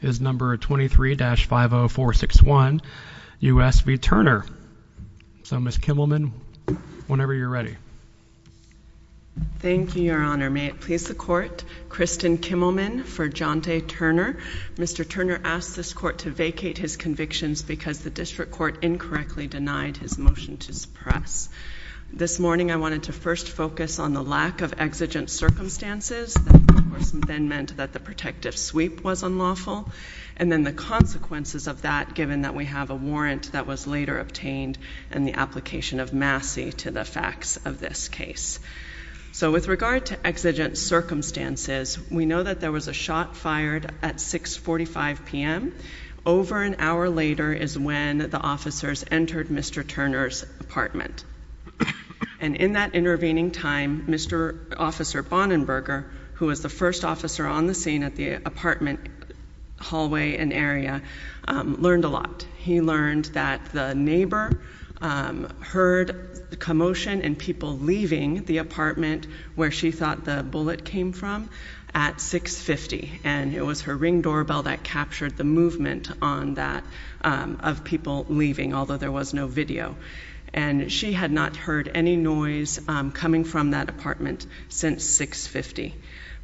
is number 23-50461 U.S. v. Turner. So, Ms. Kimmelman, whenever you're ready. Thank you, Your Honor. May it please the Court, Kristen Kimmelman for Jaunte Turner. Mr. Turner asked this court to vacate his convictions because the district court incorrectly denied his motion to suppress. This morning I wanted to first focus on the lack of exigent circumstances that then meant that the protective sweep was unlawful, and then the consequences of that given that we have a warrant that was later obtained in the application of Massey to the facts of this case. So, with regard to exigent circumstances, we know that there was a shot fired at 645 p.m. Over an hour later is when the officers entered Mr. Turner's apartment. And in that intervening time, Mr. Officer Bonnenberger, who was the first officer on the scene at the apartment hallway and area, learned a lot. He learned that the neighbor heard the commotion and people leaving the apartment where she thought the bullet came from at 650. And it was her ring doorbell that captured the movement on that of people leaving, although there was no video. And she had not heard any noise coming from that apartment since 650.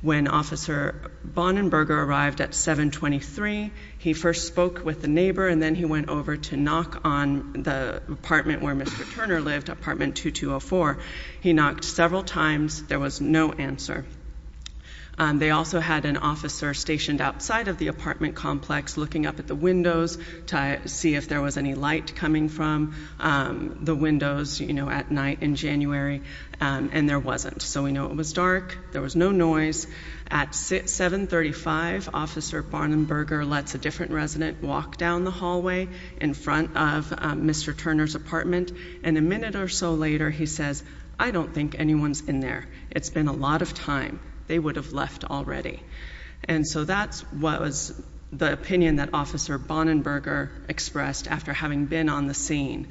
When Officer Bonnenberger arrived at 723, he first spoke with the neighbor and then he went over to knock on the apartment where Mr. Turner lived, apartment 2204. He knocked several times. There was no answer. They also had an officer stationed outside of the apartment complex looking up at the windows to see if there was any light coming from the windows, you know, at night in January. Um, and there wasn't. So we know it was dark. There was no noise at 7 35. Officer Bonnenberger lets a different resident walk down the hallway in front of Mr Turner's apartment. And a minute or so later, he says, I don't think anyone's in there. It's been a lot of time they would have left already. And so that's what was the opinion that Officer Bonnenberger expressed after having been on the scene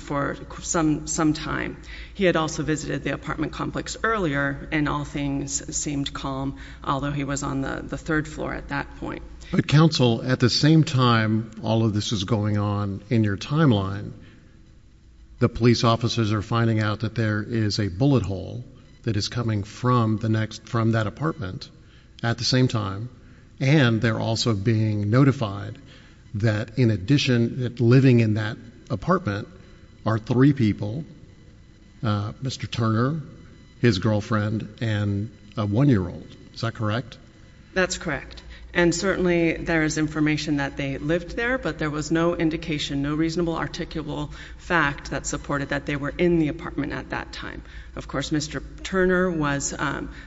for some some time. He had also visited the apartment complex earlier and all things seemed calm, although he was on the third floor at that point. But counsel, at the same time, all of this is going on in your timeline. The police officers are finding out that there is a bullet hole that is coming from the next from that apartment at the same time. And they're also being notified that, in addition, living in that apartment are three people. Mr Turner, his girlfriend and a one year old. Is that correct? That's correct. And certainly there is information that they lived there, but there was no indication, no reasonable articulable fact that supported that they were in the apartment at that time. Of course, Mr Turner was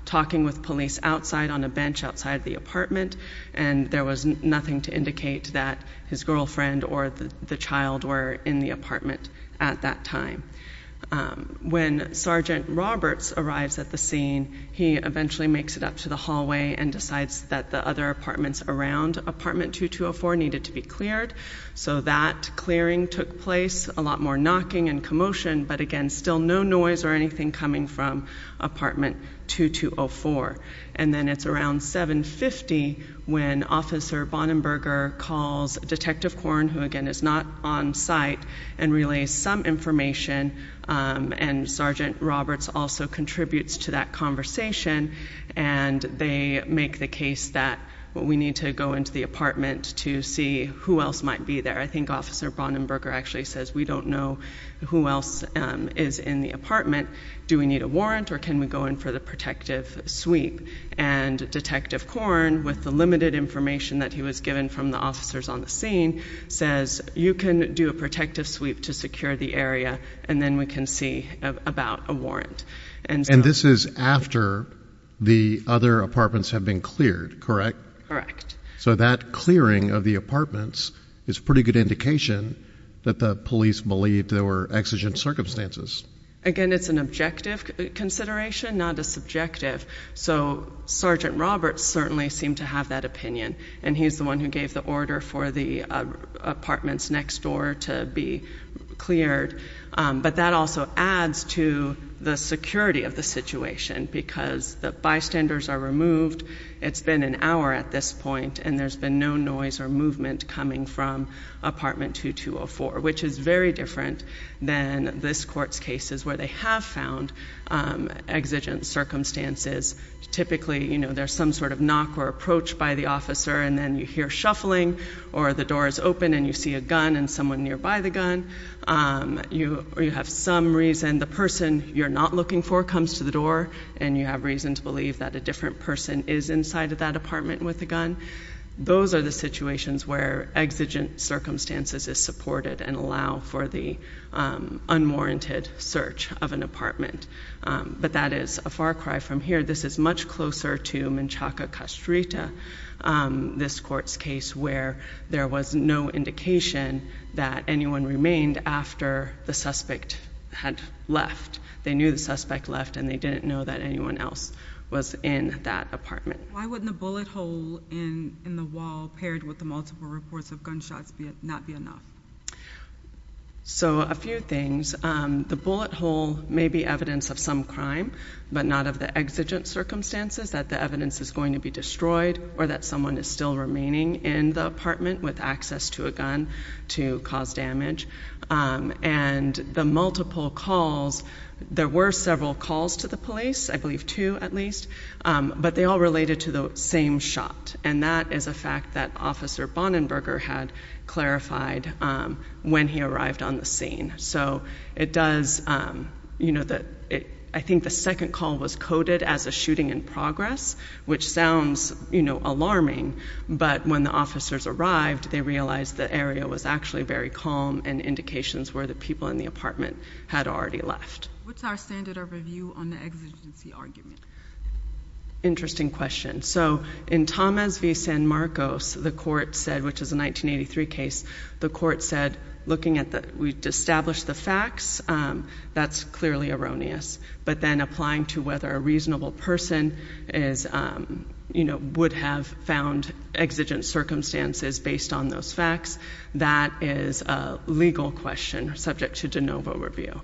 talking with police outside on a bench outside the apartment, and there was nothing to indicate that his girlfriend or the child were in the apartment at that time. When Sergeant Roberts arrives at the scene, he eventually makes it up to the hallway and decides that the other apartments around apartment 2204 needed to be cleared. So that clearing took place a lot more knocking and motion. But again, still no noise or anything coming from apartment 2204. And then it's around 7 50 when Officer Bonnenberger calls Detective Corn, who again is not on site and relay some information. And Sergeant Roberts also contributes to that conversation, and they make the case that we need to go into the apartment to see who else might be there. I think Officer Bonnenberger actually says we don't know who else is in the apartment. Do we need a warrant or can we go in for the protective sweep? And Detective Corn, with the limited information that he was given from the officers on the scene, says you can do a protective sweep to secure the area, and then we can see about a warrant. And this is after the other apartments have been cleared, correct? Correct. So that clearing of the apartments is pretty good indication that the police believed there were exigent circumstances. Again, it's an objective consideration, not a subjective. So Sergeant Roberts certainly seemed to have that opinion, and he's the one who gave the order for the apartments next door to be cleared. But that also adds to the security of the situation because the bystanders are removed. It's been an hour at this point, and there's been no noise or movement coming from apartment 2204, which is very different than this court's cases where they have found exigent circumstances. Typically there's some sort of knock or approach by the officer, and then you hear shuffling, or the door is open and you see a gun and someone nearby the gun. You have some reason the person you're not looking for comes to the door, and you have reason to believe that a person is inside of that apartment with a gun. Those are the situations where exigent circumstances is supported and allow for the unwarranted search of an apartment. But that is a far cry from here. This is much closer to Menchaca Castrita, this court's case where there was no indication that anyone remained after the suspect had left. They knew the suspect left, and they didn't know that anyone else was in that apartment. Why wouldn't the bullet hole in the wall paired with the multiple reports of gunshots not be enough? So a few things. The bullet hole may be evidence of some crime, but not of the exigent circumstances that the evidence is going to be destroyed, or that someone is still remaining in the apartment with access to a gun to cause damage. And the multiple calls, there were several calls to the police, I believe two at least, but they all related to the same shot, and that is a fact that Officer Bonnenberger had clarified when he arrived on the scene. So it does... I think the second call was coded as a shooting in progress, which sounds alarming, but when the officers arrived, they realized the area was actually very calm, and indications were that people in the apartment had already left. What's our standard of review on the exigency argument? Interesting question. So in Tomas v. San Marcos, the court said, which is a 1983 case, the court said, looking at the... We've established the facts, that's clearly erroneous. But then applying to whether a reasonable person would have found exigent circumstances based on those facts, that is a legal question subject to de novo review.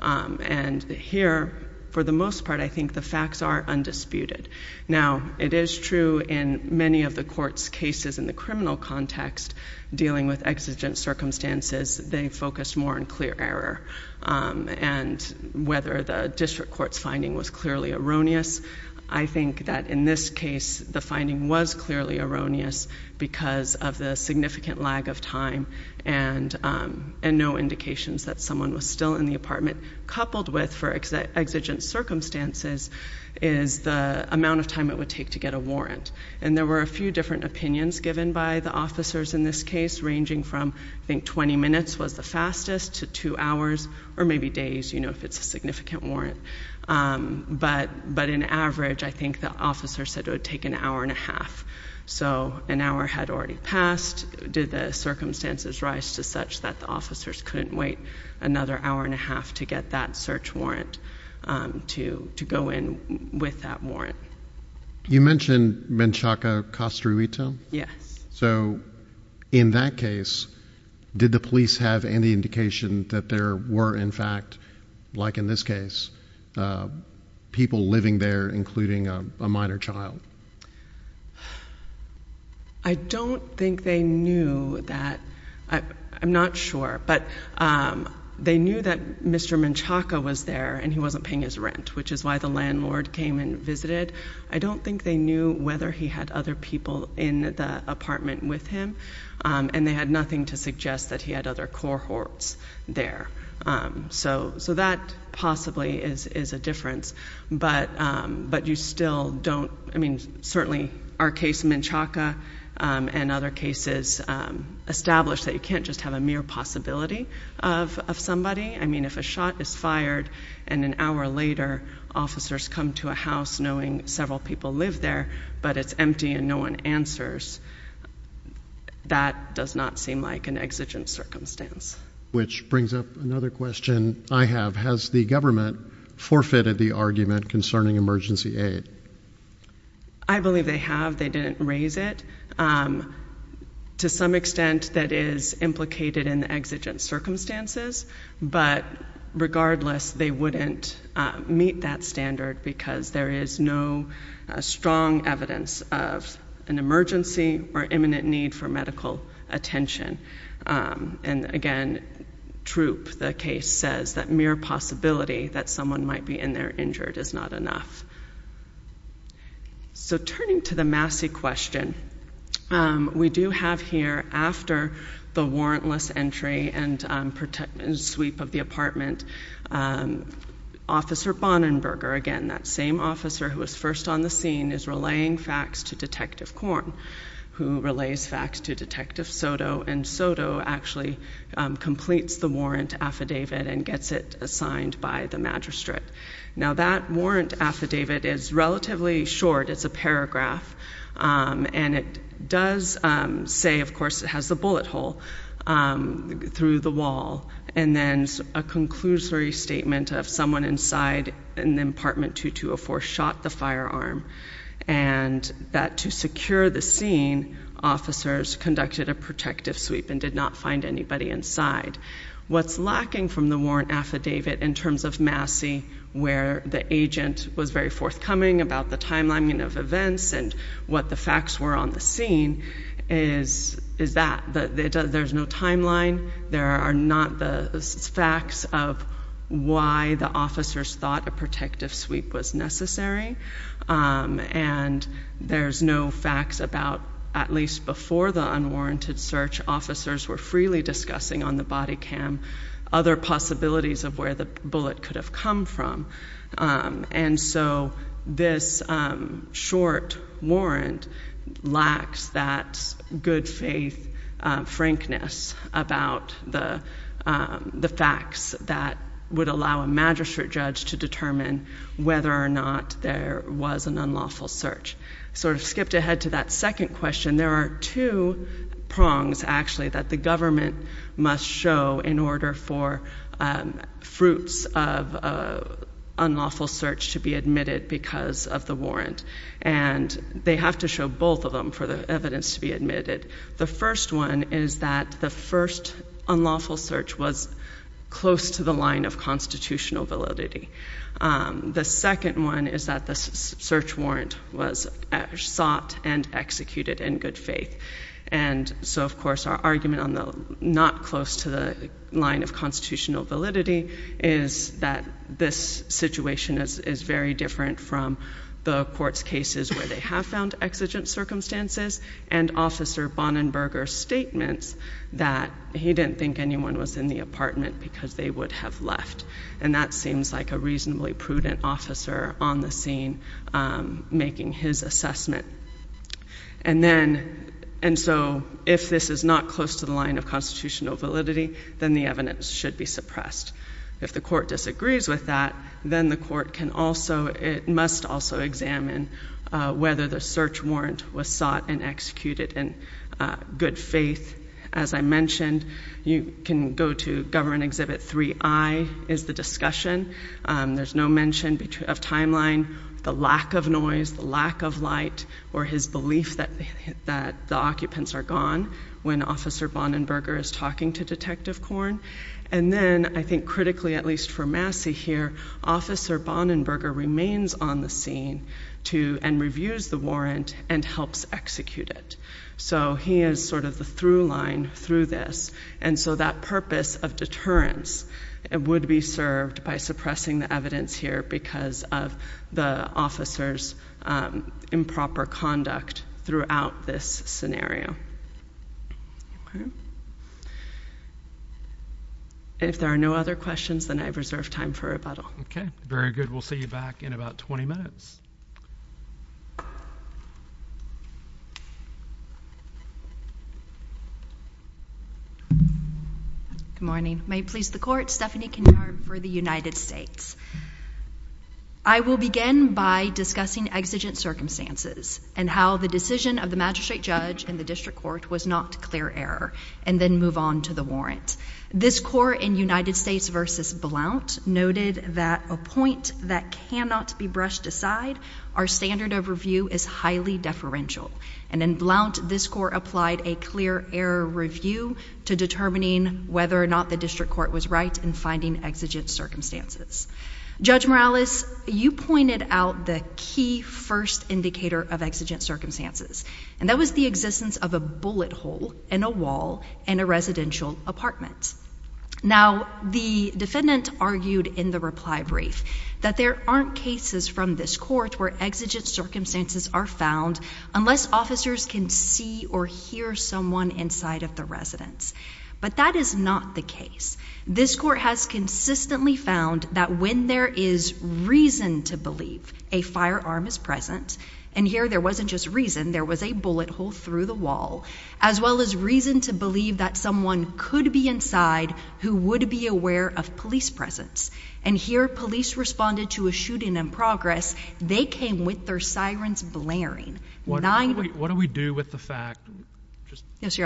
And here, for the most part, I think the facts are undisputed. Now, it is true in many of the court's cases in the criminal context, dealing with exigent circumstances, they focused more on clear error. And whether the district court's finding was clearly erroneous, I think that in this case, the finding was clearly erroneous because of the significant lag of time, and no indications that someone was still in the apartment. Coupled with, for exigent circumstances, is the amount of time it would take to get a warrant. And there were a few different opinions given by the officers in this case, ranging from, I think, 20 minutes was the fastest to two hours, or maybe days, if it's a significant warrant. But in average, I think the officer said it would take an hour and a half. So an hour had already passed. Did the circumstances rise to such that the officers couldn't wait another hour and a half to get that search warrant, to go in with that warrant? You mentioned Menchaca, Costa Rita? Yes. So in that case, did the police have any indication that there were, in fact, like in this case, people living there, including a minor child? I don't think they knew that. I'm not sure, but they knew that Mr. Menchaca was there, and he wasn't paying his rent, which is why the landlord came and visited. I don't think they knew whether he had other people in the apartment with him, and they had nothing to suggest that he had other cohorts there. So that possibly is a difference, but you still don't... I mean, certainly, our case, Menchaca, and other cases establish that you can't just have a mere possibility of somebody. I mean, if a shot is fired, and an hour later, officers come to a house knowing several people live there, but it's empty and no one answers, that does not seem like an exigent circumstance. Which brings up another question I have. Has the government forfeited the argument concerning emergency aid? I believe they have. They didn't raise it. To some extent, that is implicated in the exigent circumstances, but regardless, they wouldn't meet that standard because there is no strong evidence of an emergency or imminent need for medical attention. And again, Troop, the case says, that mere possibility that someone might be in there injured is not enough. So turning to the Massey question, we do have here, after the warrantless entry and sweep of the apartment, Officer Bonnenberger, again, that same officer who was first on the scene, is relaying facts to Detective Corn, who relays facts to Detective Soto and Soto actually completes the warrant affidavit and gets it assigned by the magistrate. Now, that warrant affidavit is relatively short, it's a paragraph, and it does say, of course, it has the bullet hole through the wall, and then a conclusory statement of someone inside in the apartment 2204 shot the firearm, and that to secure the scene, officers conducted a protective sweep and did not find anybody inside. What's lacking from the warrant affidavit in terms of Massey, where the agent was very forthcoming about the timelining of events and what the facts were on the scene, is that there's no timeline, there are not the facts of why the officers thought a protective sweep was necessary, and there's no facts about, at least before the unwarranted search, officers were freely discussing on the body cam other possibilities of where the bullet could have come from. And so this short warrant lacks that good faith frankness about the facts that would allow a magistrate judge to determine whether or not there was an unlawful search. So I've skipped ahead to that second question. There are two prongs, actually, that the government must show in order for fruits of an unlawful search to be admitted because of the warrant, and they have to show both of them for the evidence to be admitted. The first one is that the first unlawful search was close to the line of constitutional validity. The second one is that the search warrant was sought and executed in good faith. And so, of course, our argument on the not close to the line of constitutional validity is that this situation is very different from the court's cases where they have found exigent circumstances and Officer Bonnenberger's statements that he didn't think anyone was in the apartment because they would have left. And that seems like a reasonably prudent officer on the scene making his assessment. And so if this is not close to the line of constitutional validity, then the evidence should be suppressed. If the court disagrees with that, then the court must also examine whether the search warrant was sought and executed in good faith. As I mentioned, you can go to government exhibit 3I is the discussion. There's no mention of timeline, the lack of noise, the lack of light, or his belief that the occupants are gone when Officer Bonnenberger is talking to Detective Korn. And then I think critically, at least for Massey here, Officer Bonnenberger remains on the scene and reviews the warrant and helps execute it. So he is sort of the through line through this. And so that purpose of deterrence would be served by suppressing the evidence here because of the officer's improper conduct throughout this scenario. Thank you. Okay. And if there are no other questions, then I have reserved time for rebuttal. Okay. Very good. We'll see you back in about 20 minutes. Good morning. May it please the court. Stephanie Kinnard for the United States. I will begin by discussing exigent circumstances and how the decision of the magistrate judge and the district court was not clear error and then move on to the warrant. This court in United States versus Blount noted that a point that cannot be brushed aside, our standard of review is highly deferential. And in Blount, this court applied a clear error review to determining whether or not the district court was right in finding exigent circumstances. Judge Morales, you pointed out the key first indicator of exigent circumstances, and that was the existence of a bullet hole in a wall in a residential apartment. Now, the defendant argued in the reply brief that there aren't cases from this court where exigent circumstances are found unless officers can see or hear someone inside of the residence. But that is not the case. This court has consistently found that when there is reason to believe a firearm is present and here there wasn't just reason there was a bullet hole through the wall as well as reason to believe that someone could be inside who would be aware of police presence. And here police responded to a shooting in progress. They came with their sirens blaring. What do we do with the fact? Yes,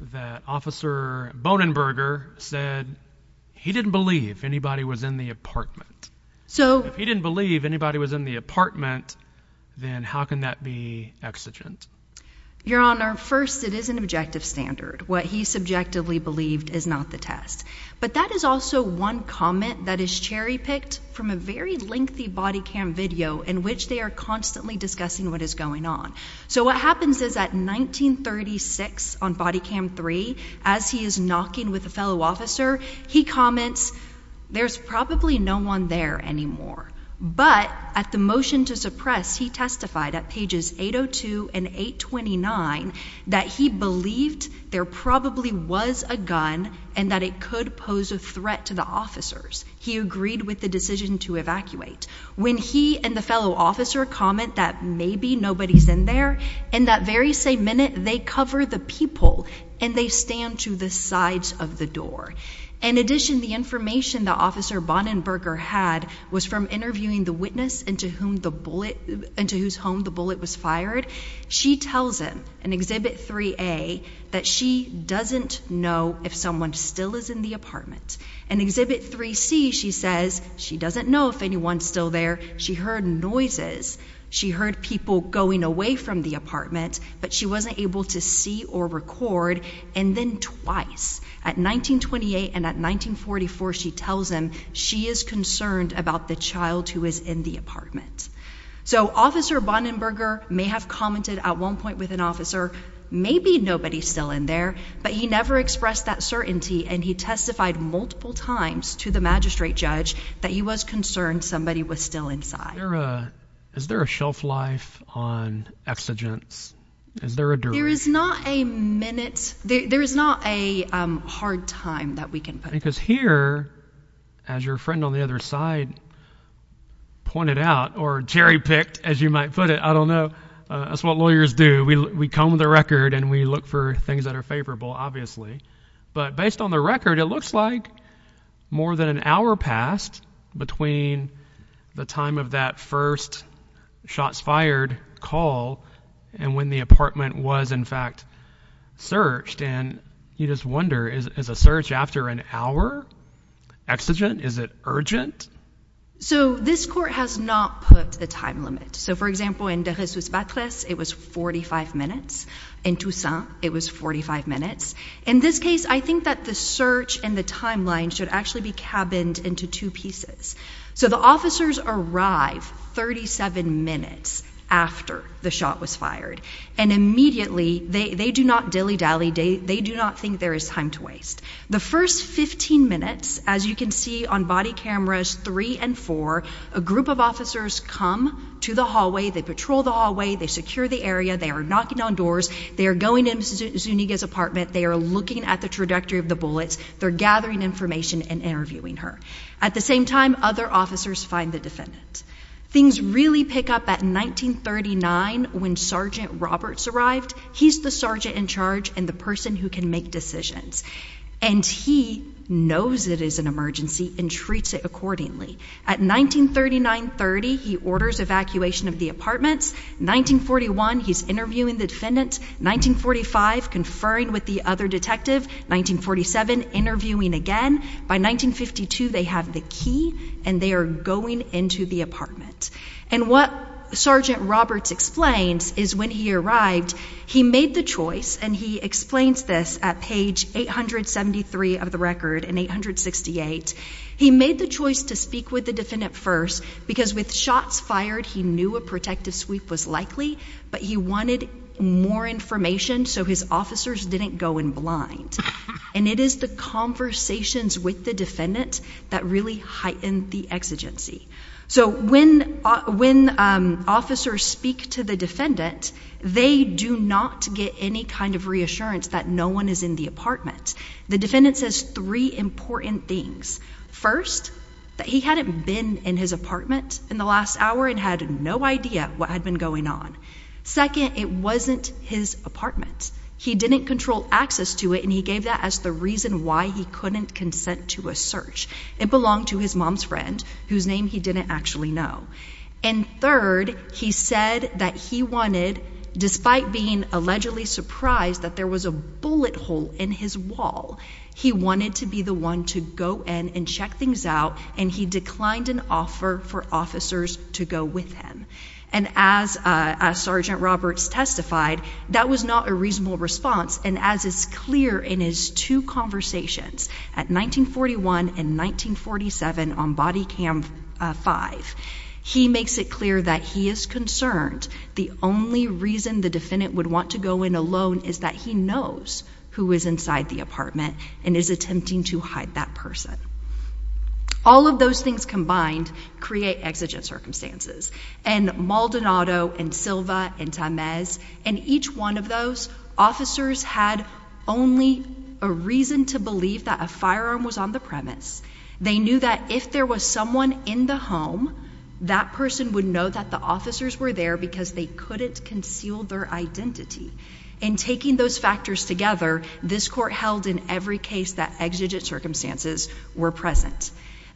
the officer Bonenberger said he didn't believe anybody was in the apartment. So if he didn't believe anybody was in the apartment, then how can that be exigent? Your Honor? First, it is an objective standard. What he subjectively believed is not the test. But that is also one comment that is cherry picked from a very lengthy body cam video in which they are constantly discussing what is going on. So what happens is that 1936 on body cam three as he is knocking with a fellow officer, he comments there's probably no one there anymore. But at the motion to suppress, he testified at pages 802 and 8 29 that he believed there probably was a gun and that it could pose a threat to the officers. He agreed with the decision to evacuate when he and the fellow officer comment that maybe nobody's in there. And that very same minute they cover the people and they stand to the sides of the door. In addition, the information the officer Bonenberger had was from interviewing the witness into whom the bullet into whose home the bullet was fired. She tells him an exhibit three a that she doesn't know if someone still is in the apartment and exhibit three C. She says she doesn't know if anyone's still there. She heard noises. She heard people going away from the apartment, but she wasn't able to see or record. And then twice at 1928 and at 1944, she tells him she is concerned about the child who is in the apartment. So Officer Bonenberger may have commented at one point with an officer. Maybe nobody's still in there, but he never expressed that certainty. And he testified multiple times to the straight judge that he was concerned somebody was still inside. Uh, is there a shelf life on exigence? Is there a door? There is not a minute. There is not a hard time that we can because here, as your friend on the other side pointed out or cherry picked as you might put it, I don't know. That's what lawyers do. We come with the record and we look for things that are favorable, obviously. But based on the record, it looks like more than an hour passed between the time of that first shots fired call and when the apartment was, in fact, searched. And you just wonder is a search after an hour exigent. Is it urgent? So this court has not put the time limit. So, for example, in this was backless. It was 45 minutes in Tucson. It was 45 minutes. In this case, I think that the search and the timeline should actually be cabins into two pieces. So the officers arrive 37 minutes after the shot was fired, and immediately they do not dilly dally. They do not think there is time to waste the 1st 15 minutes. As you can see on body cameras three and four, a group of officers come to the hallway. They patrol the hallway. They secure the area. They are knocking on doors. They're going into Zuniga's apartment. They're looking at the trajectory of the bullets. They're gathering information and interviewing her. At the same time, other officers find the defendant. Things really pick up at 1939 when Sergeant Roberts arrived. He's the sergeant in charge and the person who can make decisions, and he knows it is an emergency, and treats it accordingly. At 1939-30, he orders evacuation of the apartments. 1941, he's interviewing the defendant. 1945, conferring with the other detective. 1947, interviewing again. By 1952, they have the key, and they are going into the apartment. And what Sergeant Roberts explains is when he arrived, he made the choice, and he explains this at page 873 of the record in 868. He made the choice to speak with the defendant first because with shots fired, he knew a protective sweep was likely, but he wanted more information so his officers didn't go in blind. And it is the conversations with the defendant that really heightened the exigency. So when officers speak to the defendant, they do not get any kind of reassurance that no is in the apartment. The defendant says three important things. First, that he hadn't been in his apartment in the last hour and had no idea what had been going on. Second, it wasn't his apartment. He didn't control access to it, and he gave that as the reason why he couldn't consent to a search. It belonged to his mom's friend, whose name he didn't actually know. And third, he said that he wanted, despite being allegedly surprised that there was a bullet hole in his wall, he wanted to be the one to go in and check things out, and he declined an offer for officers to go with him. And as Sergeant Roberts testified, that was not a reasonable response. And as is clear in his two conversations at 1941 and 1947 on body cam five, he makes it clear that he is concerned. The only reason the defendant would want to go in alone is that he knows who is inside the apartment and is attempting to hide that person. All of those things combined create exigent circumstances and Maldonado and Silva and Tamez and each one of those officers had only a reason to believe that a firearm was on the premise. They knew that if there was someone in the home, that person would know that the officers were there because they couldn't conceal their identity. In taking those factors together, this court held in every case that exigent circumstances were present.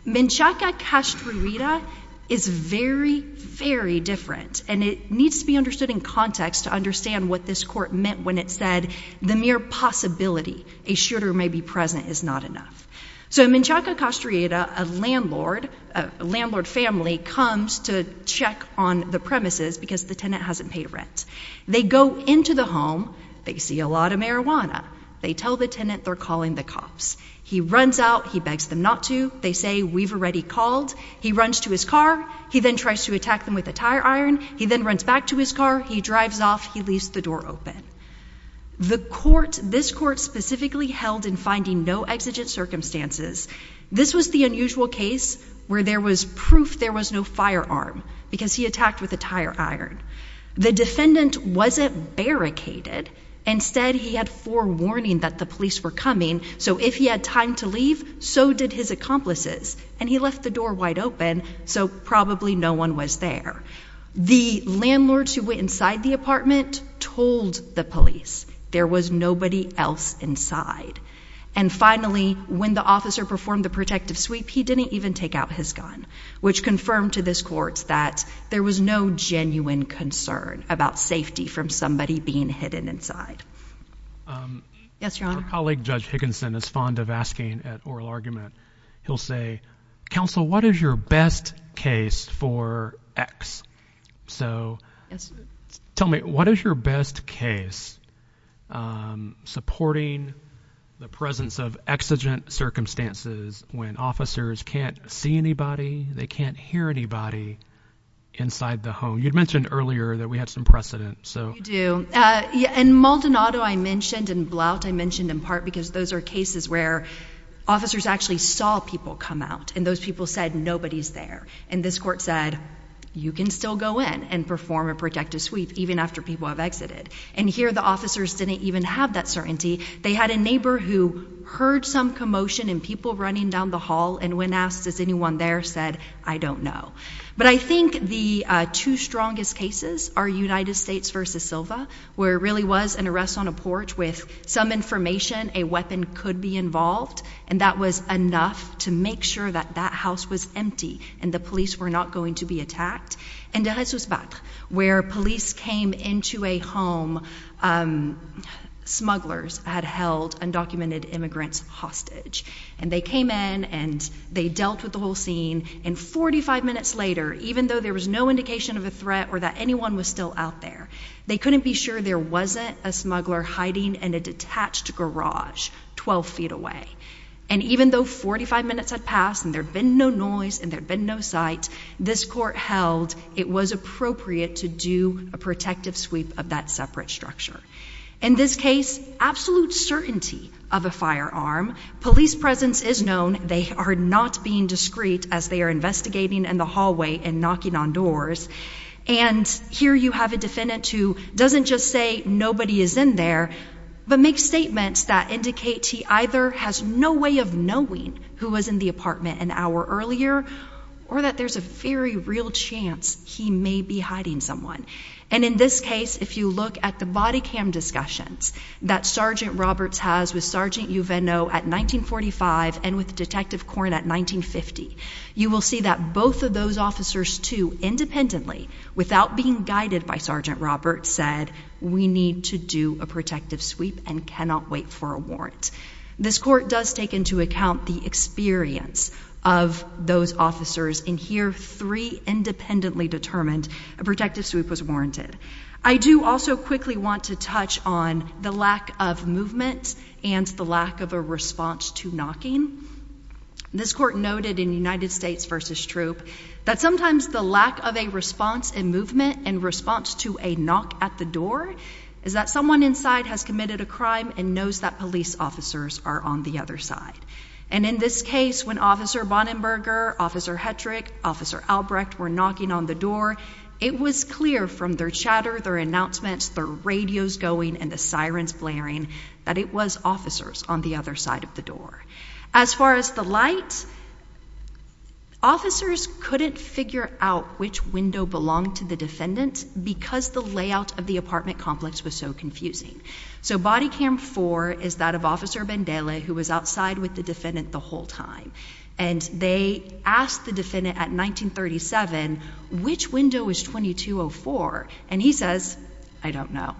Menchaca Castrera is very, very different, and it needs to be understood in context to understand what this court meant when it said the mere possibility a shooter may be present is not enough. So Menchaca Castrera, a landlord, a landlord family comes to check on the premises because the tenant hasn't paid rent. They go into the home. They see a lot of marijuana. They tell the tenant they're calling the cops. He runs out. He begs them not to. They say we've already called. He runs to his car. He then tries to attack them with a tire iron. He then runs back to his car. He drives off. He leaves the door open. The court this court specifically held in finding no exigent circumstances. This was the usual case where there was proof there was no firearm because he attacked with a tire iron. The defendant wasn't barricaded. Instead, he had forewarning that the police were coming. So if he had time to leave, so did his accomplices, and he left the door wide open. So probably no one was there. The landlords who went inside the apartment told the police there was nobody else inside. And finally, when the officer performed the protective sweep, he didn't even take out his gun, which confirmed to this court that there was no genuine concern about safety from somebody being hidden inside. Um, yes, your honor. Colleague Judge Higginson is fond of asking at oral argument. He'll say, Counsel, what is your best case for X? So tell me, what is your best case? Um, supporting the presence of exigent circumstances when officers can't see anybody, they can't hear anybody inside the home. You mentioned earlier that we had some precedent. So do you? And Maldonado, I mentioned and blout I mentioned in part because those air cases where officers actually saw people come out and those people said nobody's there. And this court said you can still go in and perform a protective sweep even after people have exited. And here the officers didn't even have that certainty. They had a neighbor who heard some commotion and people running down the hall. And when asked, is anyone there said, I don't know. But I think the two strongest cases are United States versus Silva, where it really was an arrest on a porch with some information. A weapon could be involved, and that was enough to make sure that that house was empty and the police were not going to be hacked. And the rest was back where police came into a home. Um, smugglers had held undocumented immigrants hostage, and they came in and they dealt with the whole scene. And 45 minutes later, even though there was no indication of a threat or that anyone was still out there, they couldn't be sure there wasn't a smuggler hiding in a detached garage 12 ft away. And even though 45 minutes had passed and there'd been no noise and there'd been no sight, this court held it was appropriate to do a protective sweep of that separate structure. In this case, absolute certainty of a firearm. Police presence is known. They are not being discreet as they are investigating in the hallway and knocking on doors. And here you have a defendant who doesn't just say nobody is in there, but make statements that indicate he either has no way of knowing who was in the apartment an hour earlier or that there's a very real chance he may be hiding someone. And in this case, if you look at the body cam discussions that Sergeant Roberts has with Sergeant you Venno at 1945 and with Detective Corn at 1950, you will see that both of those officers to independently without being guided by Sergeant Roberts said we need to do a protective sweep and cannot wait for a warrant. This court does take into account the experience of those officers in here. Three independently determined a protective sweep was warranted. I do also quickly want to touch on the lack of movement and the lack of a response to knocking this court noted in United States versus troop that sometimes the lack of a response and movement in response to a knock at the door is that someone inside has committed a crime and knows that police officers are on the other side. And in this case, when Officer Bonnenberger, Officer Hedrick, Officer Albrecht were knocking on the door, it was clear from their chatter, their announcements, the radios going and the sirens blaring that it was officers on the other side of the door. As far as the light, officers couldn't figure out which window belonged to the defendant because the layout of the apartment complex was so confusing. So body cam four is that of Officer Bendela, who was outside with the defendant the whole time, and they asked the defendant at 1937 which window is 2204. And he says, I don't know.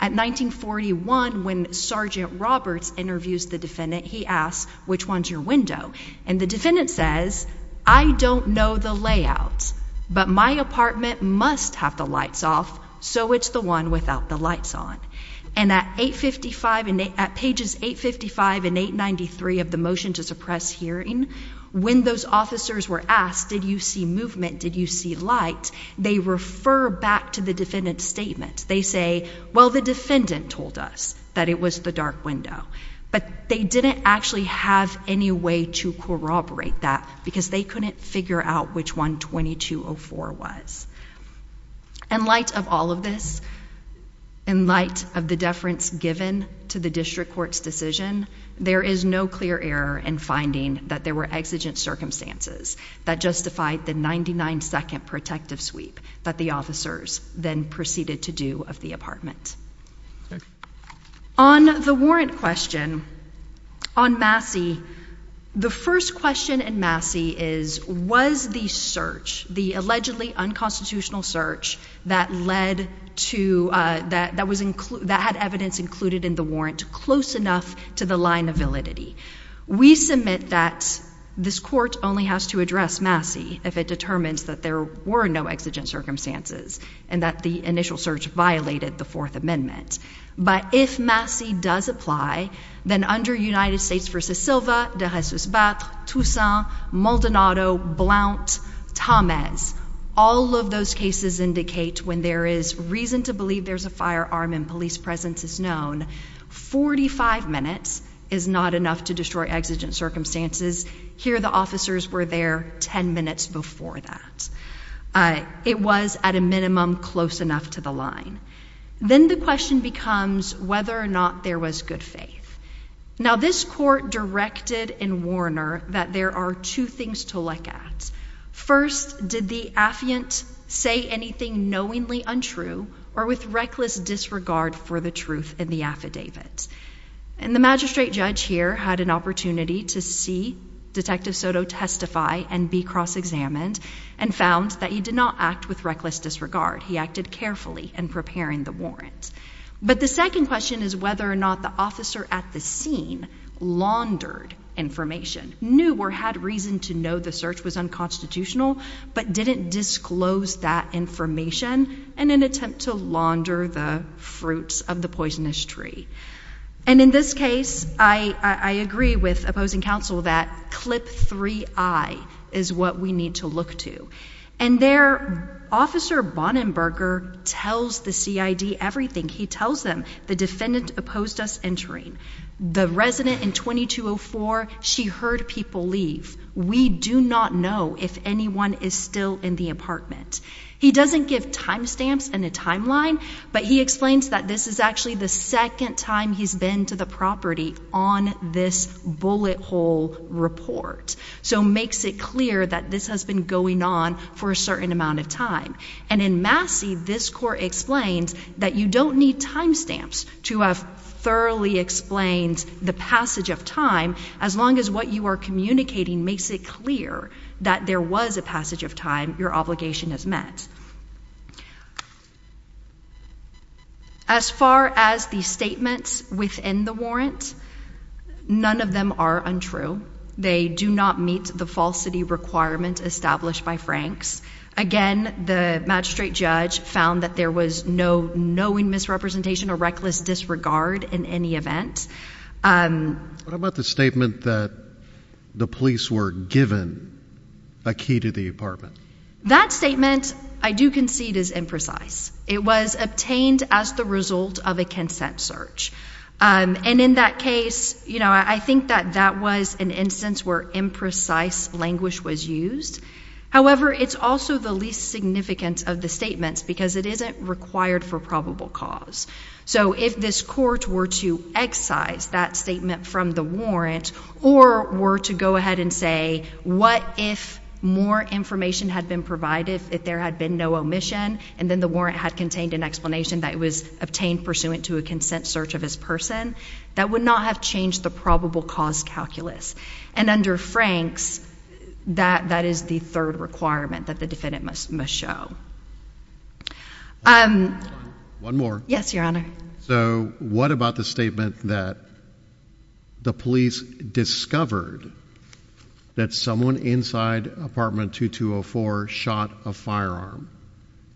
At 1941, when Sergeant Roberts interviews the defendant, he asked, which one's your window? And the defendant says, I don't know the layout, but my apartment must have the lights off. So it's the one without the lights on. And at 855 at pages 855 and 893 of the motion to suppress hearing when those officers were asked, Did you see movement? Did you see light? They refer back to the defendant's statement. They say, Well, the defendant told us that it was the dark window, but they didn't actually have any way to corroborate that because they couldn't figure out which one 2204 was. In light of all of this, in light of the deference given to the district court's decision, there is no clear error in finding that there were exigent circumstances that justified the 99 2nd protective sweep that the officers then proceeded to do of the apartment on the warrant question on Massey. The first question and Massey is was the search the allegedly unconstitutional search that led to that that was include that had evidence included in the warrant close enough to the line of validity. We submit that this court only has to address Massey if it determines that there were no exigent circumstances and that the initial search violated the Fourth Amendment. But if Massey does apply, then under United States versus Silva, there has just about Tucson, Maldonado, Blount, Thomas. All of those cases indicate when there is reason to believe there's a firearm in police presence is known. 45 minutes is not enough to destroy exigent circumstances. Here, the officers were there 10 minutes before that. Uh, it was at a minimum close enough to the line. Then the question becomes whether or not there was good faith. Now, this court directed in Warner that there are two things to look at. First, did the affluent say anything knowingly untrue or with reckless disregard for the truth in the affidavit? And the magistrate judge here had an opportunity to see Detective Soto testify and be examined and found that he did not act with reckless disregard. He acted carefully and preparing the warrants. But the second question is whether or not the officer at the scene laundered information, knew or had reason to know the search was unconstitutional, but didn't disclose that information in an attempt to launder the fruits of the poisonous tree. And in this case, I agree with opposing counsel that clip three I is what we need to look to. And their officer Bonnenberger tells the C. I. D. Everything he tells them. The defendant opposed us entering the resident in 2204. She heard people leave. We do not know if anyone is still in the apartment. He doesn't give timestamps and a timeline, but he explains that this is actually the second time he's been to the property on this bullet hole report. So makes it clear that this has been going on for a certain amount of time. And in Massey, this court explains that you don't need timestamps to have thoroughly explained the passage of time. As long as what you are communicating makes it clear that there was a passage of time, your obligation has met as far as the statements within the warrant. None of them are untrue. They do not meet the falsity requirement established by Frank's again. The magistrate judge found that there was no knowing misrepresentation, a reckless disregard in any event. Um, what about the statement that the police were given a key to the apartment? That statement I do concede is imprecise. It was obtained as the result of a consent search. Um, and in that case, you know, I think that that was an instance where imprecise language was used. However, it's also the least significant of the statements because it isn't required for probable cause. So if this court were to excise that statement from the warrant or were to go ahead and say, what if more information had been provided if there had been no omission and then the warrant had contained an explanation that was obtained pursuant to a consent search of his person, that would not have changed the probable cause calculus. And under Frank's, that is the third requirement that the defendant must must show. Um, one more. Yes, Your Honor. So what about the statement that the police discovered that someone inside apartment to to a four shot a firearm?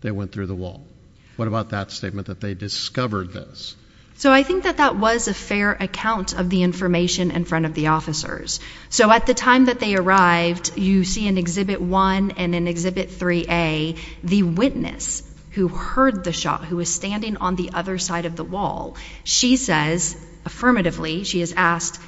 They went through the wall. What about that statement that they discovered this? So I think that that was a fair account of the information in front of the officers. So at the time that they arrived, you see an exhibit one and an exhibit three a the witness who heard the shot, who was standing on the other side of the wall, she says, affirmatively, she has asked,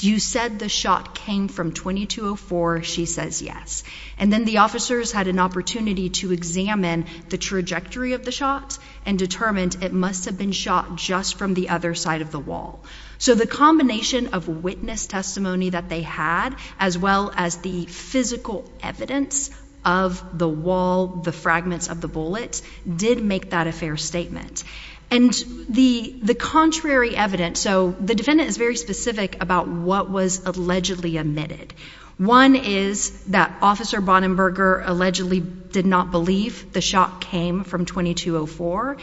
you said the shot came from 2204. She says yes. And then the officers had an opportunity to examine the trajectory of the shots and determined it must have been shot just from the other side of the wall. So the combination of witness testimony that they had as well as the physical evidence of the wall, the fragments of the bullets did make that a fair statement and the contrary evidence. So the defendant is very specific about what was allegedly admitted. One is that Officer Bonnenberger allegedly did not believe the shot came from 2204.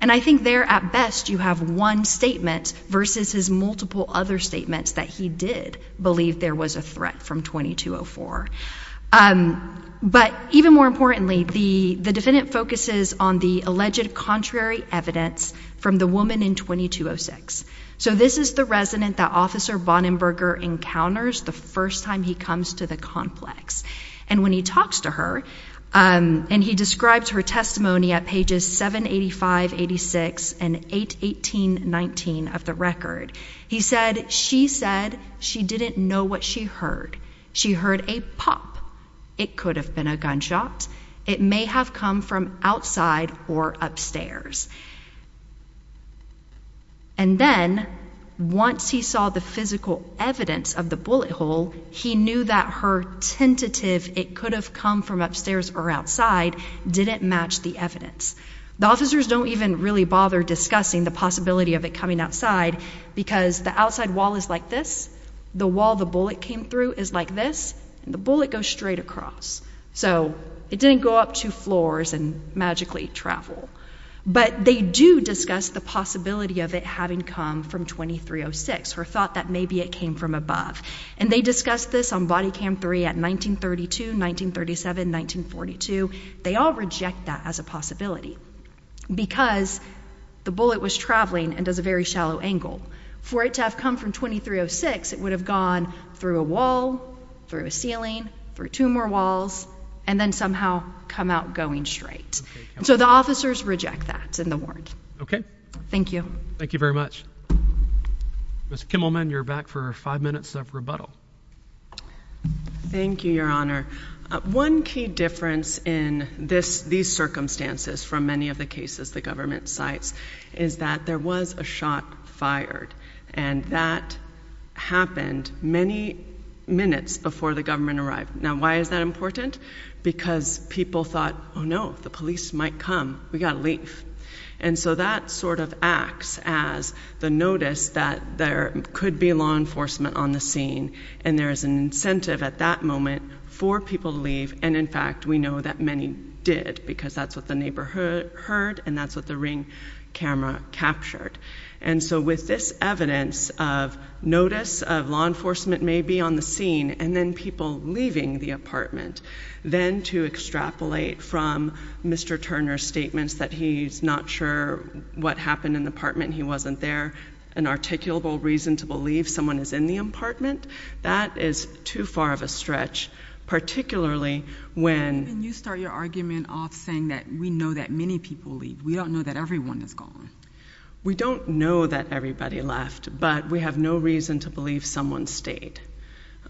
And I think there at best you have one statement versus his multiple other statements that he did believe there was a threat from 2204. But even more importantly, the defendant focuses on the alleged contrary evidence from the woman in 2206. So this is the resident that Officer Bonnenberger encounters the first time he comes to the complex. And when he talks to her and he describes her testimony at pages 785, 86 and 818, 19 of the record, he said she said she didn't know what she heard. She heard a pop. It could have been a gunshot. It may have come from outside or upstairs. And then once he saw the physical evidence of the bullet hole, he knew that her tentative it could have come from upstairs or outside didn't match the evidence. The officers don't even really bother discussing the ability of it coming outside because the outside wall is like this. The wall the bullet came through is like this. The bullet goes straight across. So it didn't go up to floors and magically travel. But they do discuss the possibility of it having come from 2306, her thought that maybe it came from above. And they discussed this on body cam three at 1932, 1937, 1942. They all object that as a possibility because the bullet was traveling and does a very shallow angle for it to have come from 2306. It would have gone through a wall through a ceiling for two more walls and then somehow come out going straight. So the officers reject that in the warrant. Okay, thank you. Thank you very much. Mr Kimmelman, you're back for five minutes of rebuttal. Thank you, Your Honor. One key difference in this these circumstances from many of the cases the government sites is that there was a shot fired and that happened many minutes before the government arrived. Now, why is that important? Because people thought, Oh, no, the police might come. We gotta leave. And so that sort of acts as the notice that there could be law enforcement on the scene. And there is an incentive at that moment for people to leave. And in fact, we know that many did because that's what the neighborhood heard, and that's what the ring camera captured. And so with this evidence of notice of law enforcement may be on the scene and then people leaving the apartment, then to extrapolate from Mr Turner's statements that he's not sure what happened in the apartment. He wasn't there. An articulable reason to believe someone is in the apartment. That is too far of a stretch, particularly when you start your argument off saying that we know that many people leave. We don't know that everyone is gone. We don't know that everybody left, but we have no reason to believe someone stayed.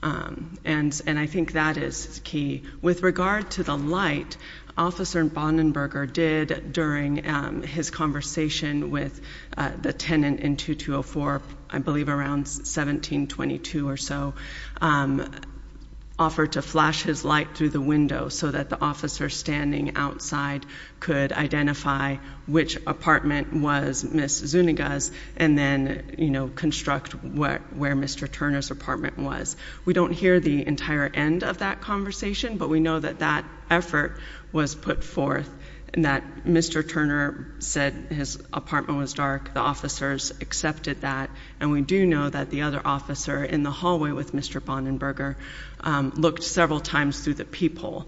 And and I think that is key with regard to the light Officer Bonnenberger did during his conversation with the tenant in 2204, I believe around 1722 or so, offered to flash his light through the window so that the officer standing outside could identify which apartment was Ms Zuniga's and then, you know, construct where Mr Turner's apartment was. We don't hear the entire end of that conversation, but we know that that effort was put forth and that Mr Turner said his apartment was dark. The officers accepted that, and we do know that the other officer in the hallway with Mr Bonnenberger looked several times through the peephole.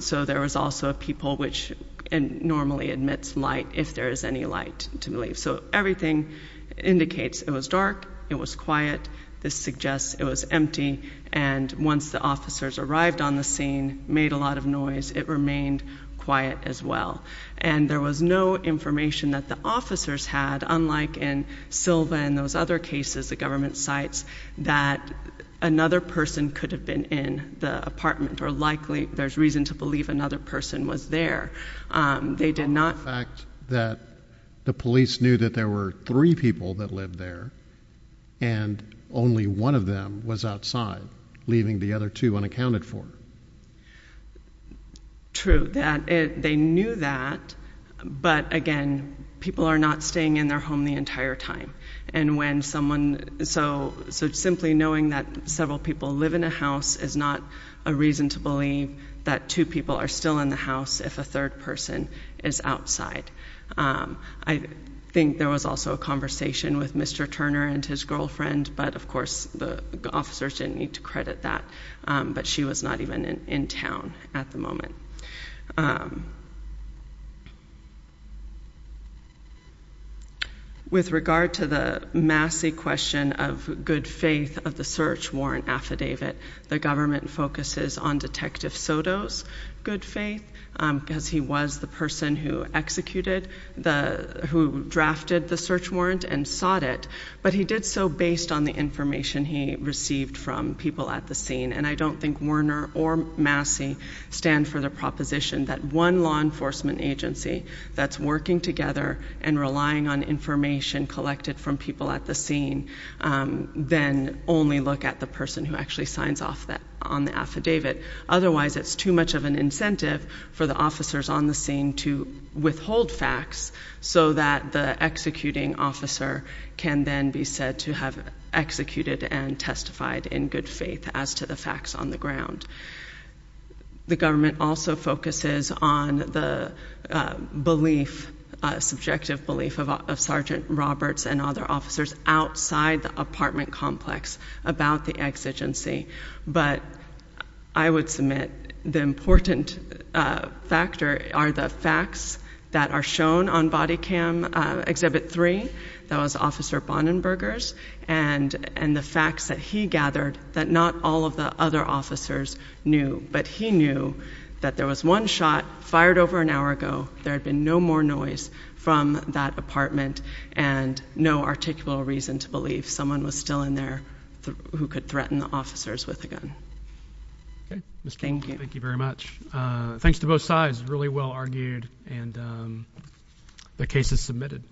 So there was also a peephole which normally admits light if there is any light to believe. So everything indicates it was dark. It was quiet. This suggests it was empty. And once the officers arrived on the scene made a lot of noise, it remained quiet as well. And there was no information that the officers had. Unlike in Silva and those other cases, the government sites that another person could have been in the apartment or likely there's reason to believe another person was there. Um, they did not fact that the police knew that there were three people that lived there. And only one of them was outside, leaving the other two unaccounted for. True that they knew that. But again, people are not staying in their home the entire time. And when someone so so simply knowing that several people live in a house is not a reason to believe that two people are still in the house if a third person is outside. Um, I think there was also a conversation with Mr Turner and his girlfriend. But of course, the officers didn't need to credit that. But she was not even in town at the moment. Um, with regard to the Massey question of good faith of the search warrant affidavit, the government focuses on Detective Soto's good faith because he was the person who executed the who drafted the search warrant and sought it. But he did so based on the information he received from people at the scene. And I don't think Werner or Massey stand for the proposition that one law enforcement agency that's working together and relying on information collected from people at the scene. Um, then only look at the person who actually signs off that on the affidavit. Otherwise, it's too much of an incentive for the officers on the scene to withhold facts so that the executing officer can then be said to have executed and testified in good faith as to the facts on the ground. The government also focuses on the belief, subjective belief of Sergeant Roberts and other officers outside the apartment complex about the exigency. But I would submit the important factor are the facts that are shown on body cam exhibit three. That was Officer Bonnenbergers and the facts that he gathered that not all of the other officers knew. But he knew that there was one shot fired over an hour ago. There had been no more noise from that apartment and no articulable reason to believe someone was still in there who could threaten the officers with a gun. Okay, Mr. Thank you. Thank you very much. Uh, thanks to both sides. Really well argued and, um, the case is submitted.